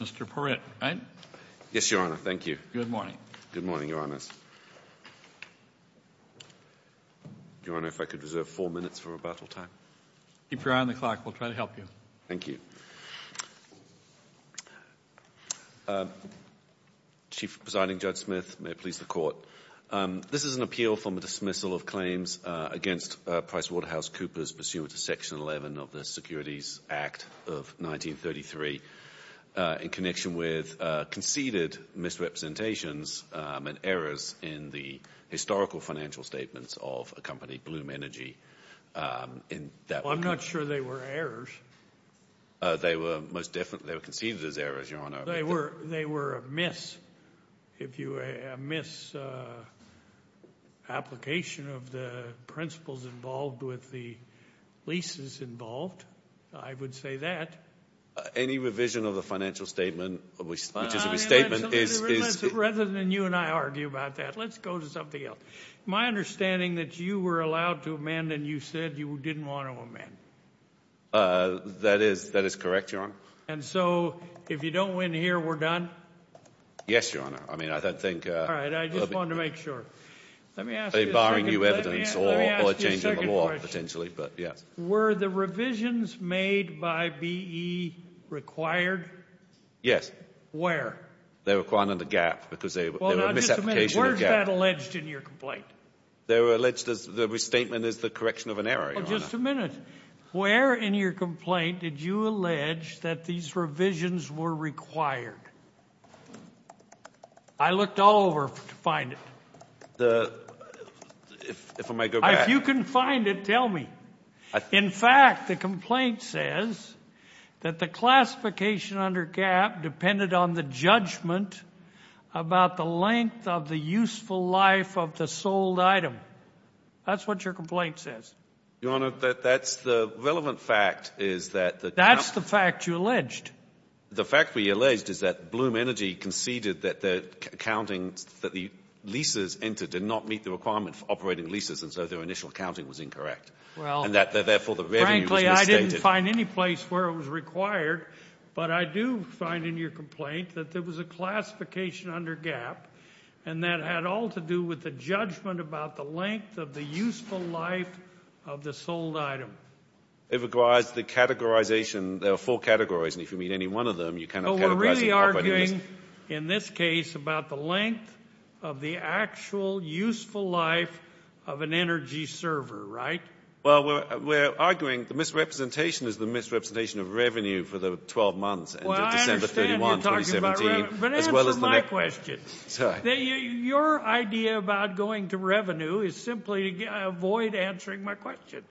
Mr. Perritt, right? Yes, Your Honor. Thank you. Good morning. Good morning, Your Honors. Your Honor, if I could reserve four minutes for rebuttal time. Keep your eye on the clock. We'll try to help you. Thank you. Chief Presiding Judge Smith, may it please the Court. This is an appeal for the dismissal of claims against PricewaterhouseCoopers, pursuant to Section 11 of the Securities Act of 1933, in connection with conceded misrepresentations and errors in the historical financial statements of a company, Bloom Energy. I'm not sure they were errors. They were most definitely conceded as errors, Your Honor. They were amiss. If you amiss application of the principles involved with the leases involved, I would say that. Any revision of the financial statement, which is a misstatement, is Rather than you and I argue about that, let's go to something else. My understanding is that you were allowed to amend and you said you didn't want to amend. That is correct, Your Honor. And so if you don't win here, we're done? Yes, Your Honor. I mean, I don't think All right. I just wanted to make sure. Let me ask you a second question. Barring new evidence or a change in the law, potentially, but yes. Were the revisions made by BE required? Yes. Where? They were required under GAAP because they were a misapplication of GAAP. Where is that alleged in your complaint? They were alleged as the restatement is the correction of an error, Your Honor. Well, just a minute. Where in your complaint did you allege that these revisions were required? I looked all over to find it. If I may go back. If you can find it, tell me. In fact, the complaint says that the classification under GAAP depended on the judgment about the length of the useful life of the sold item. That's what your complaint says. Your Honor, that's the relevant fact is that the That's the fact you alleged. The fact we alleged is that Bloom Energy conceded that their accounting, that the leases entered did not meet the requirement for operating leases, and so their initial accounting was incorrect. Well, frankly, I didn't find any place where it was required, but I do find in your complaint that there was a classification under GAAP, and that had all to do with the judgment about the length of the useful life of the sold item. It requires the categorization. There are four categories, and if you meet any one of them, you cannot categorize the properties. But we're really arguing in this case about the length of the actual useful life of an energy server, right? Well, we're arguing the misrepresentation is the misrepresentation of revenue for the 12 months Well, I understand you're talking about revenue, but answer my question. Your idea about going to revenue is simply to avoid answering my question.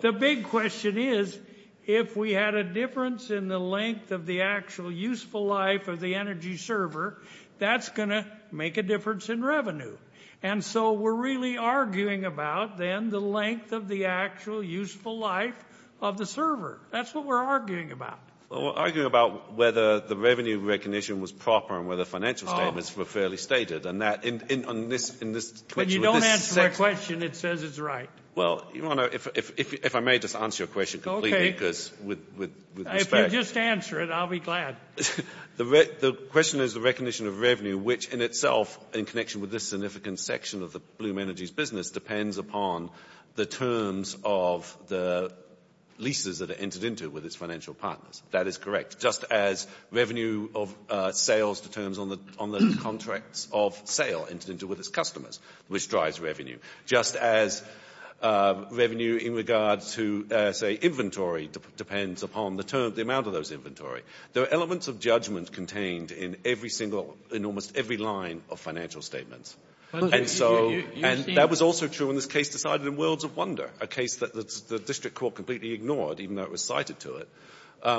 The big question is if we had a difference in the length of the actual useful life of the energy server, that's going to make a difference in revenue. And so we're really arguing about then the length of the actual useful life of the server. That's what we're arguing about. Well, we're arguing about whether the revenue recognition was proper and whether financial statements were fairly stated. But you don't answer my question. It says it's right. Well, if I may just answer your question completely, because with respect. If you just answer it, I'll be glad. The question is the recognition of revenue, which in itself, in connection with this significant section of the Bloom Energy's business, depends upon the terms of the leases that are entered into with its financial partners. That is correct. Just as revenue of sales determines on the contracts of sale entered into with its customers, which drives revenue. Just as revenue in regards to, say, inventory depends upon the amount of those inventory. There are elements of judgment contained in almost every line of financial statements. And so that was also true in this case decided in Worlds of Wonder, a case that the district court completely ignored, even though it was cited to it,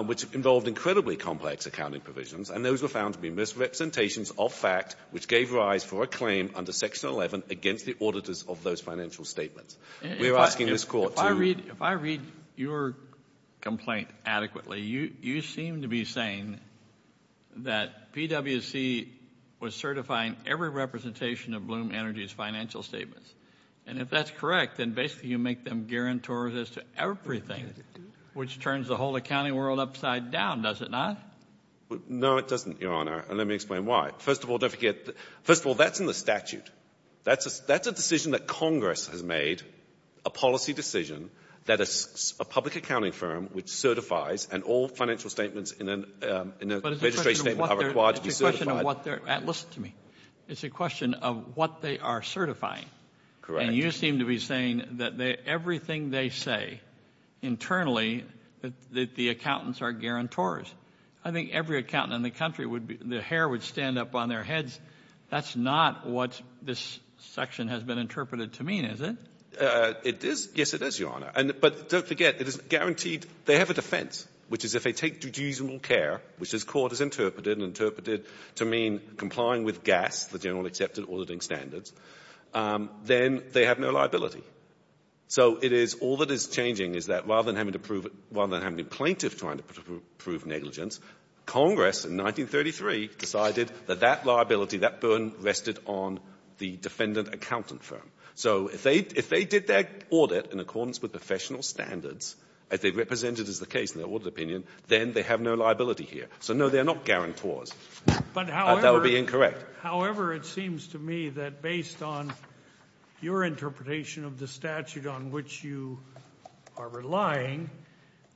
which involved incredibly complex accounting provisions. And those were found to be misrepresentations of fact, which gave rise for a claim under Section 11 against the auditors of those financial statements. We are asking this court to. If I read your complaint adequately, you seem to be saying that PWC was certifying every representation of Bloom Energy's financial statements. And if that's correct, then basically you make them guarantors as to everything, which turns the whole accounting world upside down, does it not? No, it doesn't, Your Honor, and let me explain why. First of all, don't forget, first of all, that's in the statute. That's a decision that Congress has made, a policy decision, that a public accounting firm which certifies and all financial statements in a registration statement are required to be certified. But it's a question of what they're – listen to me. It's a question of what they are certifying. Correct. And you seem to be saying that everything they say internally, that the accountants are guarantors. I think every accountant in the country, the hair would stand up on their heads. That's not what this section has been interpreted to mean, is it? It is. Yes, it is, Your Honor. But don't forget, it is guaranteed. They have a defense, which is if they take duties and will care, which this Court has interpreted and interpreted to mean complying with GAS, the General Accepted Auditing Standards, then they have no liability. So it is – all that is changing is that rather than having to prove it – rather than having a plaintiff trying to prove negligence, Congress in 1933 decided that that liability, that burden rested on the defendant accountant firm. So if they did their audit in accordance with professional standards, as they represented as the case in their audit opinion, then they have no liability here. So, no, they are not guarantors. That would be incorrect. However, it seems to me that based on your interpretation of the statute on which you are relying,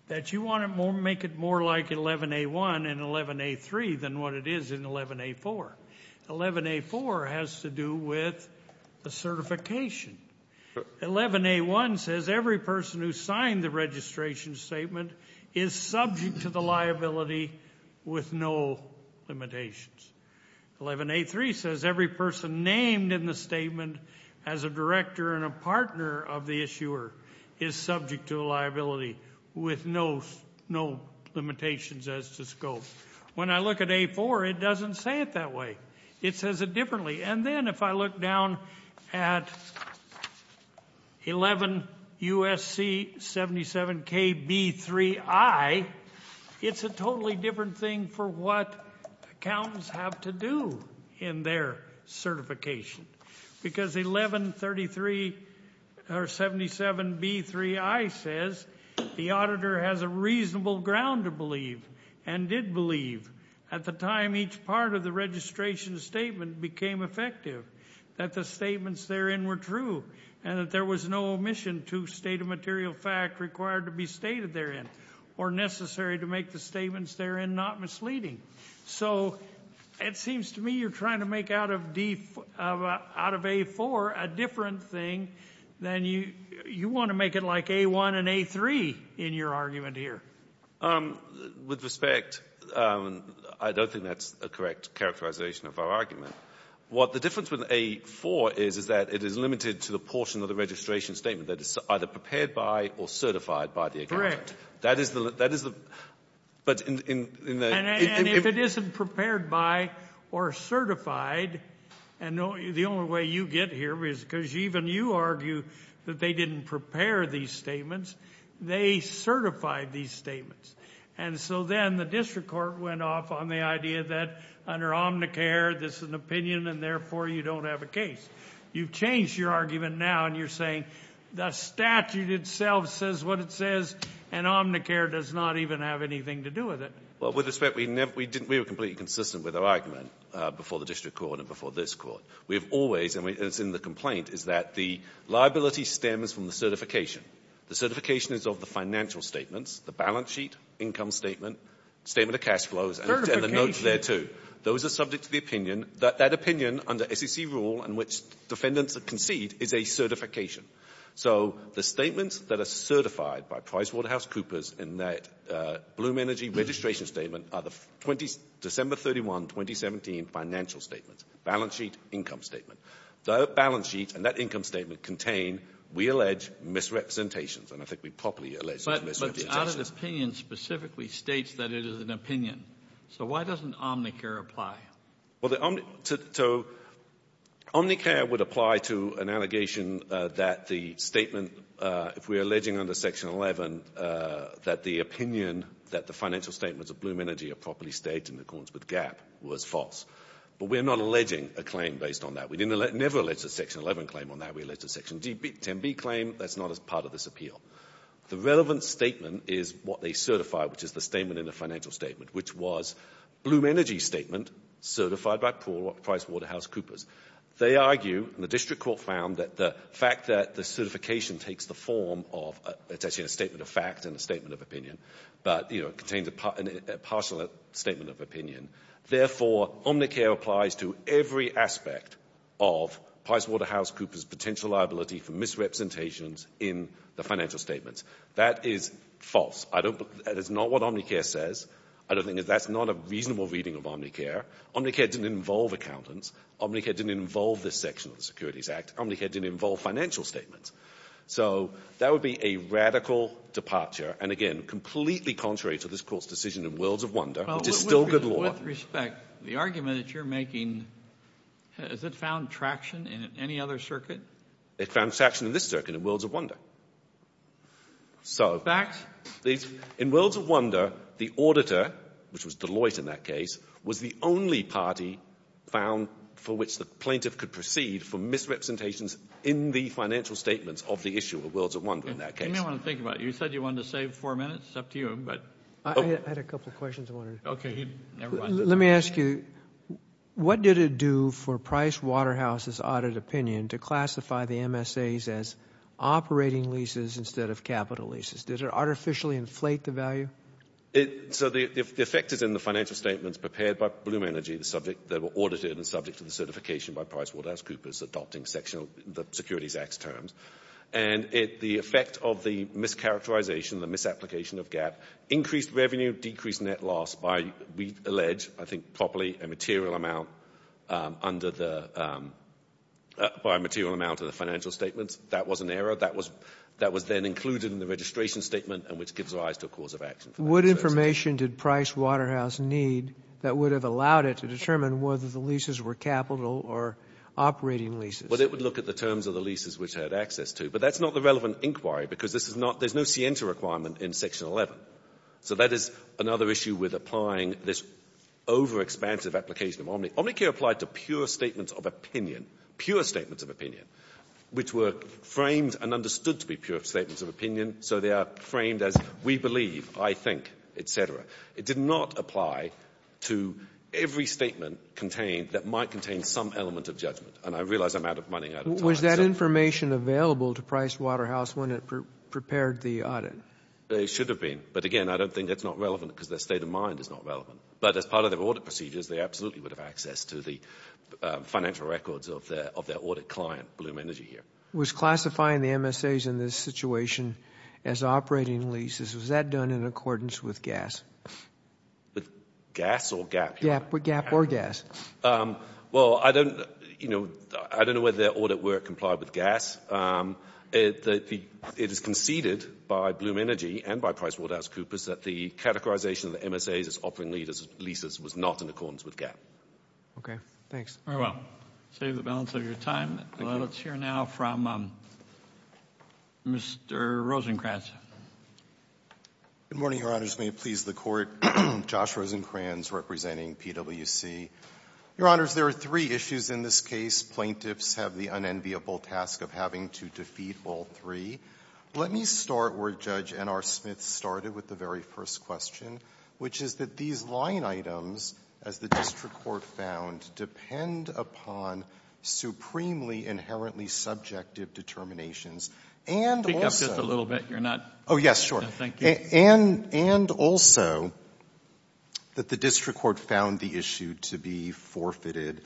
that you want to make it more like 11a1 and 11a3 than what it is in 11a4. 11a4 has to do with the certification. 11a1 says every person who signed the registration statement is subject to the liability with no limitations. 11a3 says every person named in the statement as a director and a partner of the issuer is subject to the liability with no limitations as to scope. When I look at a4, it doesn't say it that way. It says it differently. And then if I look down at 11 U.S.C. 77KB3I, it's a totally different thing for what accountants have to do in their certification. Because 1177B3I says the auditor has a reasonable ground to believe and did believe at the time each part of the registration statement became effective, that the statements therein were true and that there was no omission to state of material fact required to be stated therein or necessary to make the statements therein not misleading. So it seems to me you're trying to make out of a4 a different thing than you want to make it like a1 and a3 in your argument here. With respect, I don't think that's a correct characterization of our argument. What the difference with a4 is, is that it is limited to the portion of the registration statement that is either prepared by or certified by the accountant. And if it isn't prepared by or certified, and the only way you get here is because even you argue that they didn't prepare these statements. They certified these statements. And so then the district court went off on the idea that under Omnicare, this is an opinion and therefore you don't have a case. You've changed your argument now and you're saying the statute itself says what it says and Omnicare does not even have anything to do with it. Well, with respect, we were completely consistent with our argument before the district court and before this court. We have always, and it's in the complaint, is that the liability stems from the The certification is of the financial statements, the balance sheet, income statement, statement of cash flows, and the notes there, too. Those are subject to the opinion. That opinion under SEC rule in which defendants concede is a certification. So the statements that are certified by PricewaterhouseCoopers in that Bloom Energy registration statement are the December 31, 2017 financial statements, balance sheet, income statement. The balance sheet and that income statement contain, we allege, misrepresentations. And I think we properly allege misrepresentations. But the audit opinion specifically states that it is an opinion. So why doesn't Omnicare apply? Well, Omnicare would apply to an allegation that the statement, if we're alleging under Section 11, that the opinion that the financial statements of Bloom Energy are properly stated in accordance with GAAP was false. But we're not alleging a claim based on that. We never alleged a Section 11 claim on that. We alleged a Section 10b claim. That's not as part of this appeal. The relevant statement is what they certify, which is the statement in the financial statement, which was Bloom Energy's statement certified by PricewaterhouseCoopers. They argue, and the district court found, that the fact that the certification takes the form of, it's actually a statement of fact and a statement of opinion, but it contains a partial statement of opinion. Therefore, Omnicare applies to every aspect of PricewaterhouseCoopers' potential liability for misrepresentations in the financial statements. That is false. That is not what Omnicare says. I don't think that that's not a reasonable reading of Omnicare. Omnicare didn't involve accountants. Omnicare didn't involve this section of the Securities Act. Omnicare didn't involve financial statements. So that would be a radical departure and, again, completely contrary to this court's decision in Worlds of Wonder, which is still good law. With respect, the argument that you're making, has it found traction in any other circuit? It found traction in this circuit, in Worlds of Wonder. So in Worlds of Wonder, the auditor, which was Deloitte in that case, was the only party found for which the plaintiff could proceed for misrepresentations in the financial statements of the issue of Worlds of Wonder in that case. You may want to think about it. You said you wanted to save four minutes. It's up to you. I had a couple of questions I wanted to ask. Okay. Let me ask you, what did it do for Pricewaterhouse's audit opinion to classify the MSAs as operating leases instead of capital leases? Did it artificially inflate the value? So the effect is in the financial statements prepared by Bloom Energy that were audited and subject to the certification by PricewaterhouseCoopers adopting the Securities Act's terms. And the effect of the mischaracterization, the misapplication of GAAP, increased revenue, decreased net loss by, we allege, I think properly, a material amount under the by a material amount of the financial statements. That was an error. That was then included in the registration statement, and which gives rise to a cause of action. What information did Pricewaterhouse need that would have allowed it to determine whether the leases were capital or operating leases? Well, it would look at the terms of the leases which it had access to. But that's not the relevant inquiry because this is not there's no Sienta requirement in Section 11. So that is another issue with applying this overexpansive application of Omnicare. Omnicare applied to pure statements of opinion, pure statements of opinion, which were framed and understood to be pure statements of opinion. So they are framed as we believe, I think, et cetera. It did not apply to every statement contained that might contain some element of judgment. And I realize I'm running out of time. Was that information available to Pricewaterhouse when it prepared the audit? It should have been. But, again, I don't think it's not relevant because their state of mind is not relevant. But as part of their audit procedures, they absolutely would have access to the financial records of their audit client, Bloom Energy, here. Was classifying the MSAs in this situation as operating leases, was that done in accordance with GAS? With GAS or GAP? GAP or GAS. Well, I don't know whether their audit were complied with GAS. It is conceded by Bloom Energy and by PricewaterhouseCoopers that the categorization of the MSAs as operating leases was not in accordance with GAP. Thanks. Very well. Save the balance of your time. Let's hear now from Mr. Rosenkranz. Good morning, Your Honors. May it please the Court. Josh Rosenkranz representing PWC. Your Honors, there are three issues in this case. Plaintiffs have the unenviable task of having to defeat all three. Let me start where Judge N.R. Smith started with the very first question, which is that these line items, as the district court found, depend upon supremely inherently subjective determinations and also — Speak up just a little bit. You're not — Oh, yes, sure. Thank you. And also that the district court found the issue to be forfeited.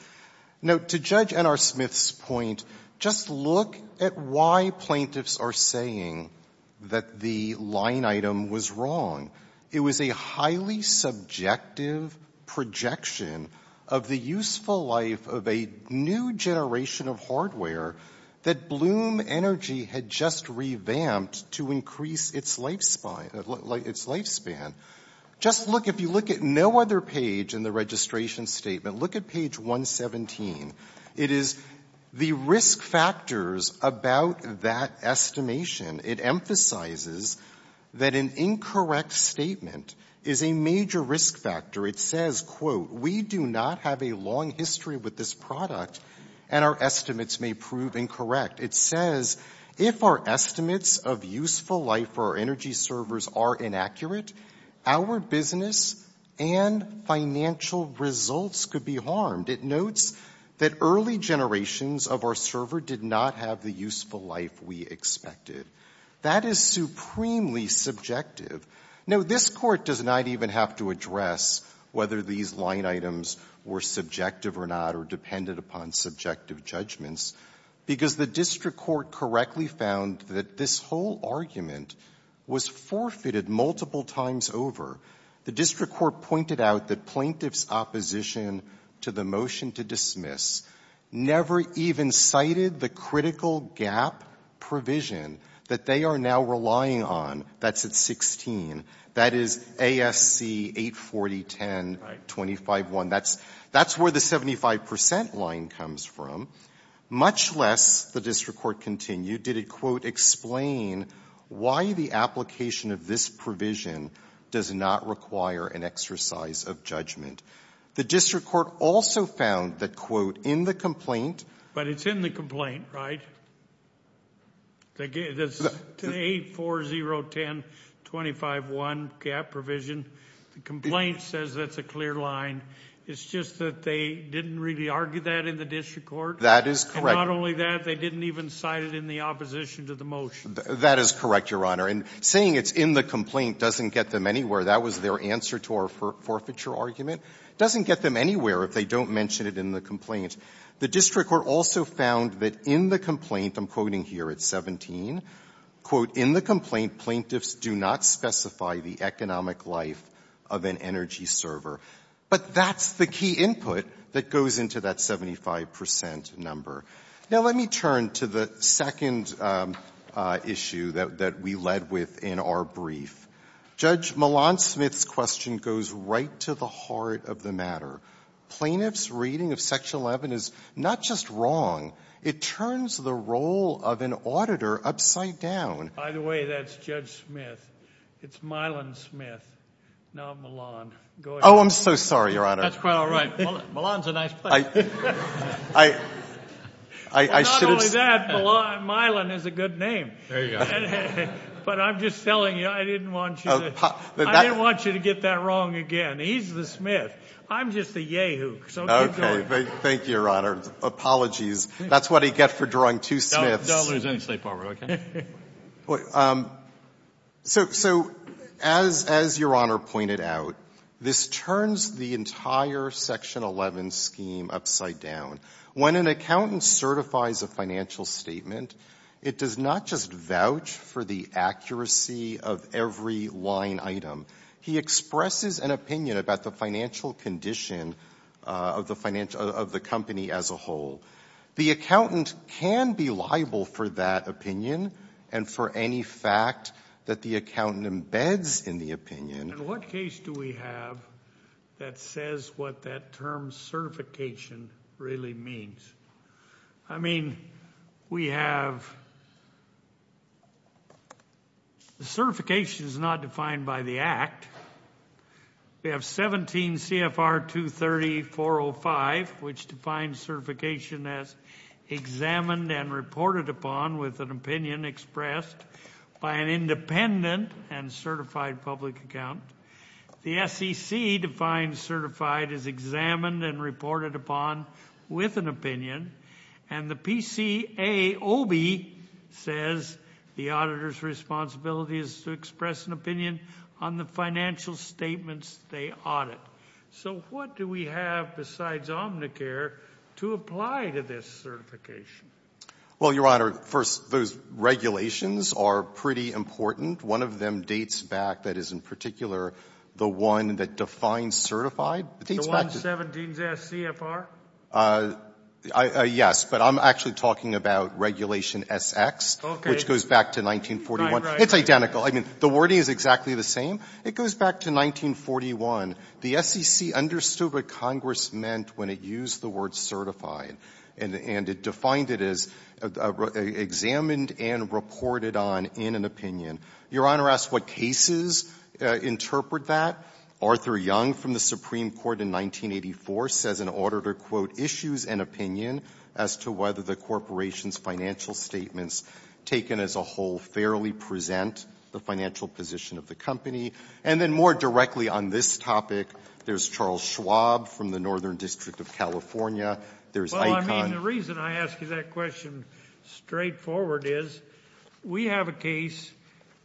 Now, to Judge N.R. Smith's point, just look at why plaintiffs are saying that the line item was wrong. It was a highly subjective projection of the useful life of a new generation of hardware that Bloom Energy had just revamped to increase its lifespan. Just look, if you look at no other page in the registration statement, look at page 117. It is the risk factors about that estimation. It emphasizes that an incorrect statement is a major risk factor. It says, quote, we do not have a long history with this product and our estimates may prove incorrect. It says, if our estimates of useful life for our energy servers are inaccurate, our business and financial results could be harmed. It notes that early generations of our server did not have the useful life we expected. That is supremely subjective. Now, this Court does not even have to address whether these line items were subjective or not or depended upon subjective judgments, because the district court correctly found that this whole argument was forfeited multiple times over. The district court pointed out that plaintiffs' opposition to the motion to dismiss never even cited the critical gap provision that they are now relying on. That's at 16. That is ASC 840-10251. That's where the 75 percent line comes from. Much less, the district court continued, did it, quote, explain why the application of this provision does not require an exercise of judgment. The district court also found that, quote, in the complaint. But it's in the complaint, right? That's 840-10251 gap provision. The complaint says that's a clear line. It's just that they didn't really argue that in the district court. That is correct. And not only that, they didn't even cite it in the opposition to the motion. That is correct, Your Honor. And saying it's in the complaint doesn't get them anywhere. That was their answer to our forfeiture argument. It doesn't get them anywhere if they don't mention it in the complaint. The district court also found that in the complaint, I'm quoting here at 17, quote, in the complaint, plaintiffs do not specify the economic life of an energy server. But that's the key input that goes into that 75 percent number. Now, let me turn to the second issue that we led with in our brief. Judge Malone-Smith's question goes right to the heart of the matter. Plaintiffs' reading of Section 11 is not just wrong. It turns the role of an auditor upside down. By the way, that's Judge Smith. It's Mylon Smith, not Malone. Go ahead. Oh, I'm so sorry, Your Honor. That's quite all right. Malone's a nice place. I should have said that. Well, not only that, Mylon is a good name. There you go. But I'm just telling you, I didn't want you to get that wrong again. He's the Smith. I'm just the yay-hoo. So keep going. Thank you, Your Honor. Apologies. That's what I get for drawing two Smiths. Don't lose any sleep over it, okay? So as Your Honor pointed out, this turns the entire Section 11 scheme upside down. When an accountant certifies a financial statement, it does not just vouch for the accuracy of every line item. He expresses an opinion about the financial condition of the company as a whole. The accountant can be liable for that opinion and for any fact that the accountant embeds in the opinion. In what case do we have that says what that term certification really means? I mean, we have the certification is not defined by the Act. We have 17 CFR 230-405, which defines certification as examined and reported upon with an opinion expressed by an independent and certified public accountant. The SEC defines certified as examined and reported upon with an opinion, and the PCAOB says the auditor's responsibility is to express an opinion on the financial statements they audit. So what do we have besides Omnicare to apply to this certification? Well, Your Honor, first, those regulations are pretty important. One of them dates back that is in particular the one that defines certified. It dates back to the 17 CFR? Yes, but I'm actually talking about Regulation S.X. Okay. Which goes back to 1941. Right, right. It's identical. I mean, the wording is exactly the same. It goes back to 1941. The SEC understood what Congress meant when it used the word certified, and it defined it as examined and reported on in an opinion. Your Honor asks what cases interpret that. Arthur Young from the Supreme Court in 1984 says an auditor, quote, issues an opinion as to whether the corporation's financial statements taken as a whole fairly present the financial position of the company. And then more directly on this topic, there's Charles Schwab from the Northern District of California. There's ICON. I mean, the reason I ask you that question straightforward is we have a case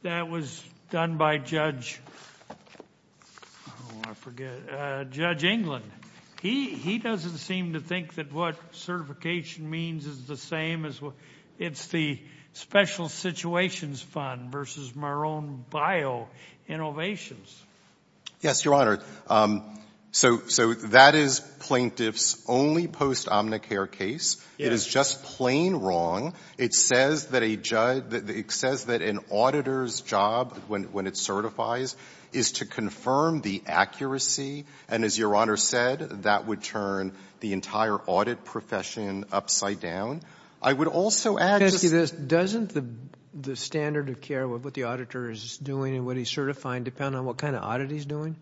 that was done by Judge — I forget — Judge England. He doesn't seem to think that what certification means is the same as — it's the Special Situations Fund versus Marone BioInnovations. Yes, Your Honor. So that is plaintiff's only post-omnicare case. It is just plain wrong. It says that a judge — it says that an auditor's job, when it certifies, is to confirm the accuracy. And as Your Honor said, that would turn the entire audit profession upside down. I would also add just — Doesn't the standard of care of what the auditor is doing and what he's certifying depend on what kind of audit he's doing?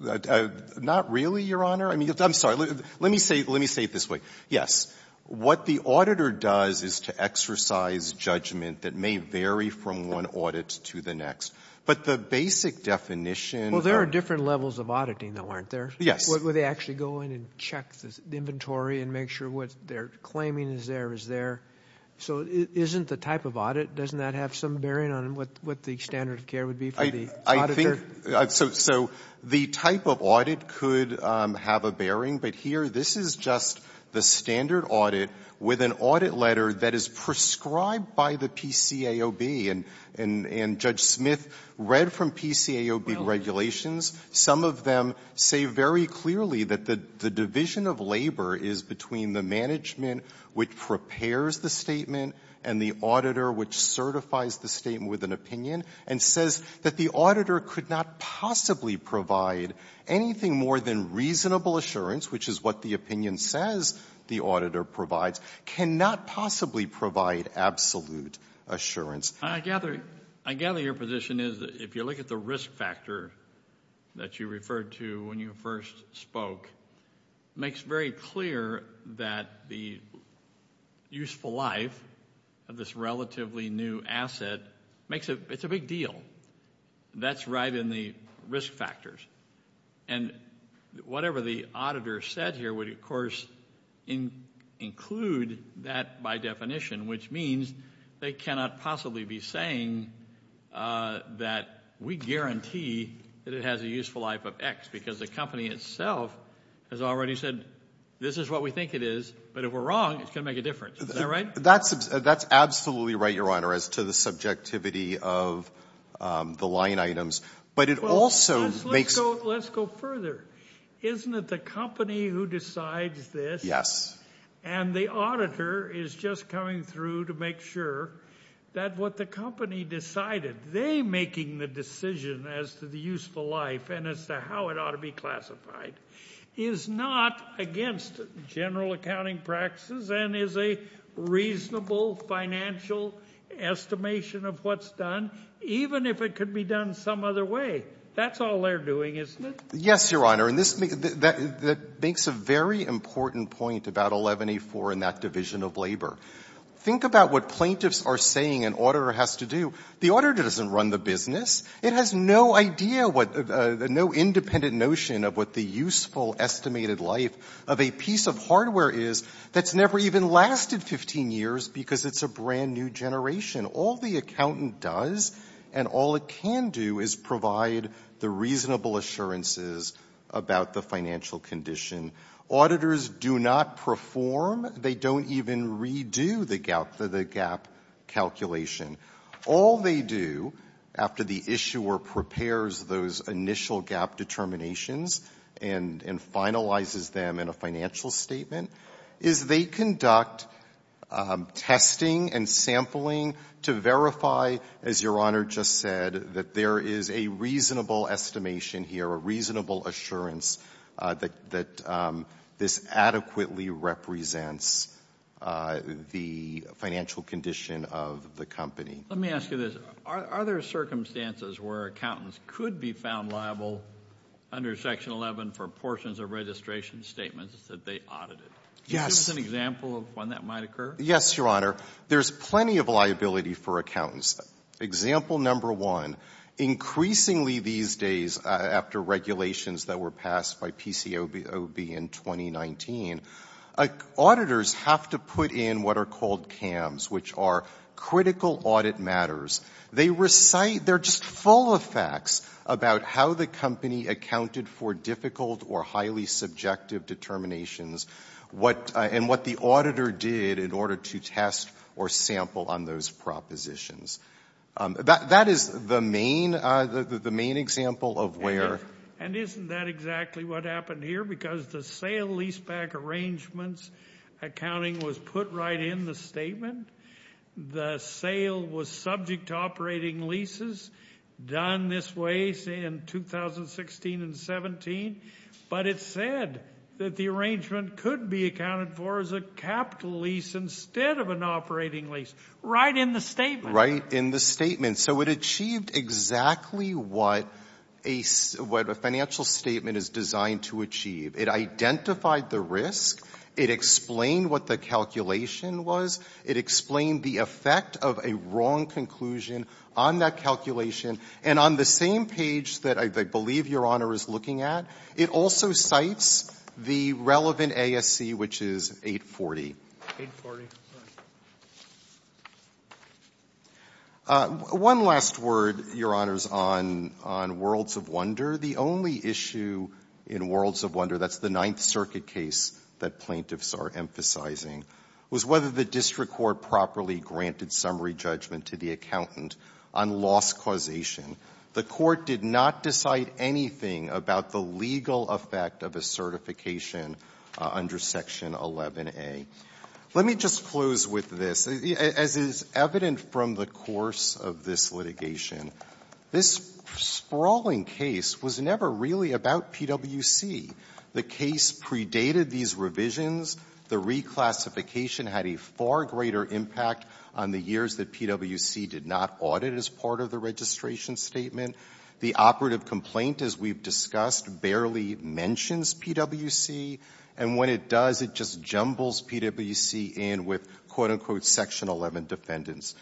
Not really, Your Honor. I mean, I'm sorry. Let me say it this way. Yes, what the auditor does is to exercise judgment that may vary from one audit to the next. But the basic definition — Well, there are different levels of auditing, though, aren't there? Yes. Where they actually go in and check the inventory and make sure what they're claiming is there is there. So it isn't the type of audit. Doesn't that have some bearing on what the standard of care would be for the auditor? I think — so the type of audit could have a bearing. But here, this is just the standard audit with an audit letter that is prescribed by the PCAOB. And Judge Smith read from PCAOB regulations. Some of them say very clearly that the division of labor is between the management which prepares the statement and the auditor which certifies the statement with an opinion and says that the auditor could not possibly provide anything more than reasonable assurance, which is what the opinion says the auditor provides, cannot possibly provide absolute assurance. I gather your position is if you look at the risk factor that you referred to when you first spoke, it makes very clear that the useful life of this relatively new asset makes a — it's a big deal. That's right in the risk factors. And whatever the auditor said here would, of course, include that by definition, which means they cannot possibly be saying that we guarantee that it has a useful life of X because the company itself has already said this is what we think it is. But if we're wrong, it's going to make a difference. Is that right? That's absolutely right, Your Honor, as to the subjectivity of the line items. But it also makes — Let's go further. Isn't it the company who decides this? Yes. And the auditor is just coming through to make sure that what the company decided, they making the decision as to the useful life and as to how it ought to be classified is not against general accounting practices and is a reasonable financial estimation of what's done, even if it could be done some other way. That's all they're doing, isn't it? Yes, Your Honor. And this makes a very important point about 11A.4 and that division of labor. Think about what plaintiffs are saying an auditor has to do. The auditor doesn't run the business. It has no idea what — no independent notion of what the useful estimated life of a piece of hardware is that's never even lasted 15 years because it's a brand-new generation. All the accountant does and all it can do is provide the reasonable assurances about the financial condition. Auditors do not perform. They don't even redo the gap calculation. All they do after the issuer prepares those initial gap determinations and finalizes them in a financial statement is they conduct testing and sampling to verify, as Your Honor just said, that there is a reasonable estimation here, a reasonable assurance that this adequately represents the financial condition of the company. Let me ask you this. Are there circumstances where accountants could be found liable under Section 11 for portions of registration statements that they audited? Yes. Can you give us an example of when that might occur? Yes, Your Honor. There's plenty of liability for accountants. Example number one, increasingly these days after regulations that were passed by PCOB in 2019, auditors have to put in what are called CAMs, which are critical audit matters. They recite — they're just full of facts about how the company accounted for difficult or highly subjective determinations and what the auditor did in order to test or sample on those propositions. That is the main example of where — And isn't that exactly what happened here? Because the sale leaseback arrangements accounting was put right in the statement. The sale was subject to operating leases done this way in 2016 and 17, but it said that the arrangement could be accounted for as a capital lease instead of an operating lease, right in the statement. Right in the statement. So it achieved exactly what a financial statement is designed to achieve. It identified the risk. It explained what the calculation was. It explained the effect of a wrong conclusion on that calculation. And on the same page that I believe Your Honor is looking at, it also cites the relevant ASC, which is 840. 840. One last word, Your Honors, on Worlds of Wonder. The only issue in Worlds of Wonder — that's the Ninth Circuit case that plaintiffs are emphasizing — was whether the district court properly granted summary judgment to the accountant on loss causation. The court did not decide anything about the legal effect of a certification under Section 11A. Let me just close with this. As is evident from the course of this litigation, this sprawling case was never really about PwC. The case predated these revisions. The reclassification had a far greater impact on the years that PwC did not audit as part of the registration statement. The operative complaint, as we've discussed, barely mentions PwC. And when it does, it just jumbles PwC in with, quote, unquote, Section 11 defendants.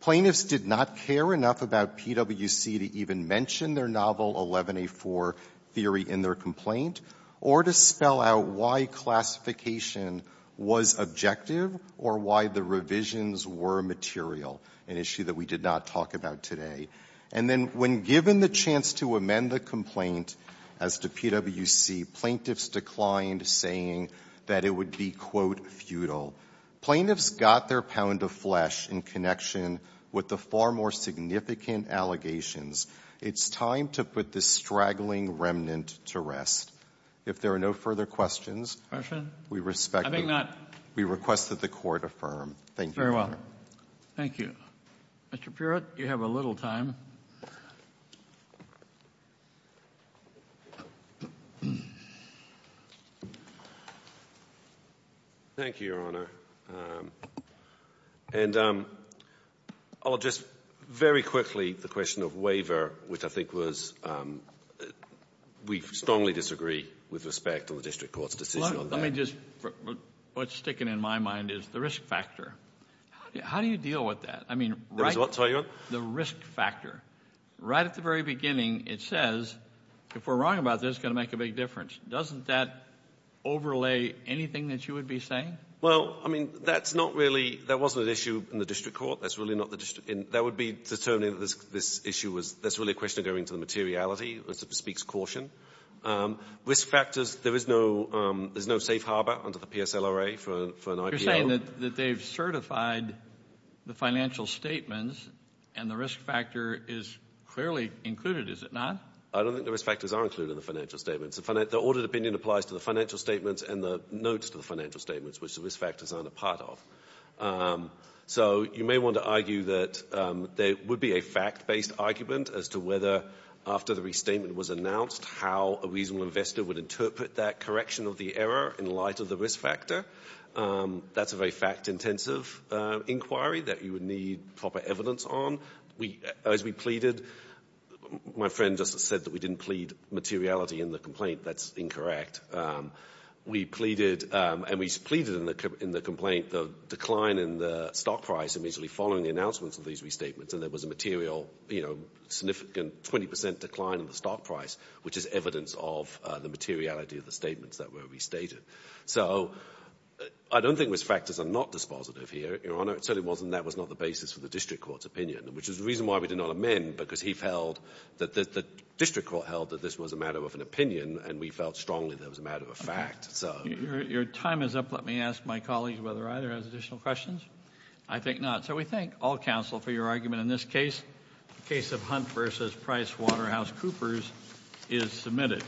Plaintiffs did not care enough about PwC to even mention their novel 11A4 theory in their complaint or to spell out why classification was objective or why the revisions were material, an issue that we did not talk about today. And then when given the chance to amend the complaint as to PwC, plaintiffs declined saying that it would be, quote, futile. Plaintiffs got their pound of flesh in connection with the far more significant allegations. It's time to put this straggling remnant to rest. If there are no further questions, we respect that. We request that the Court affirm. Thank you, Your Honor. Thank you. Mr. Puritt, you have a little time. Thank you, Your Honor. And I'll just, very quickly, the question of waiver, which I think was, we strongly disagree with respect to the District Court's decision on that. Let me just, what's sticking in my mind is the risk factor. How do you deal with that? I mean, the risk factor. Right at the very beginning, it says, if we're wrong about this, it's going to make a big difference. Doesn't that overlay anything that you would be saying? Well, I mean, that's not really, that wasn't an issue in the District Court. That's really not, that would be determining that this issue was, that's really a question of going to the materiality. It speaks caution. Risk factors, there is no safe harbor under the PSLRA for an IPO. You're saying that they've certified the financial statements and the risk factor is clearly included, is it not? I don't think the risk factors are included in the financial statements. The audited opinion applies to the financial statements and the notes to the financial statements, which the risk factors aren't a part of. So you may want to argue that there would be a fact-based argument as to whether after the restatement was announced, how a reasonable investor would interpret that correction of the error in light of the risk factor. That's a very fact-intensive inquiry that you would need proper evidence on. As we pleaded, my friend just said that we didn't plead materiality in the That's incorrect. We pleaded, and we pleaded in the complaint, the decline in the stock price immediately following the announcements of these restatements, and there was a material, you know, significant 20% decline in the stock price, which is evidence of the materiality of the statements that were restated. So I don't think risk factors are not dispositive here, Your Honor. No, it certainly wasn't. That was not the basis for the district court's opinion, which is the reason why we did not amend, because he felt that the district court held that this was a matter of an opinion, and we felt strongly that it was a matter of fact. Your time is up. Let me ask my colleagues whether either has additional questions. I think not. So we thank all counsel for your argument in this case. The case of Hunt v. Price Waterhouse Coopers is submitted.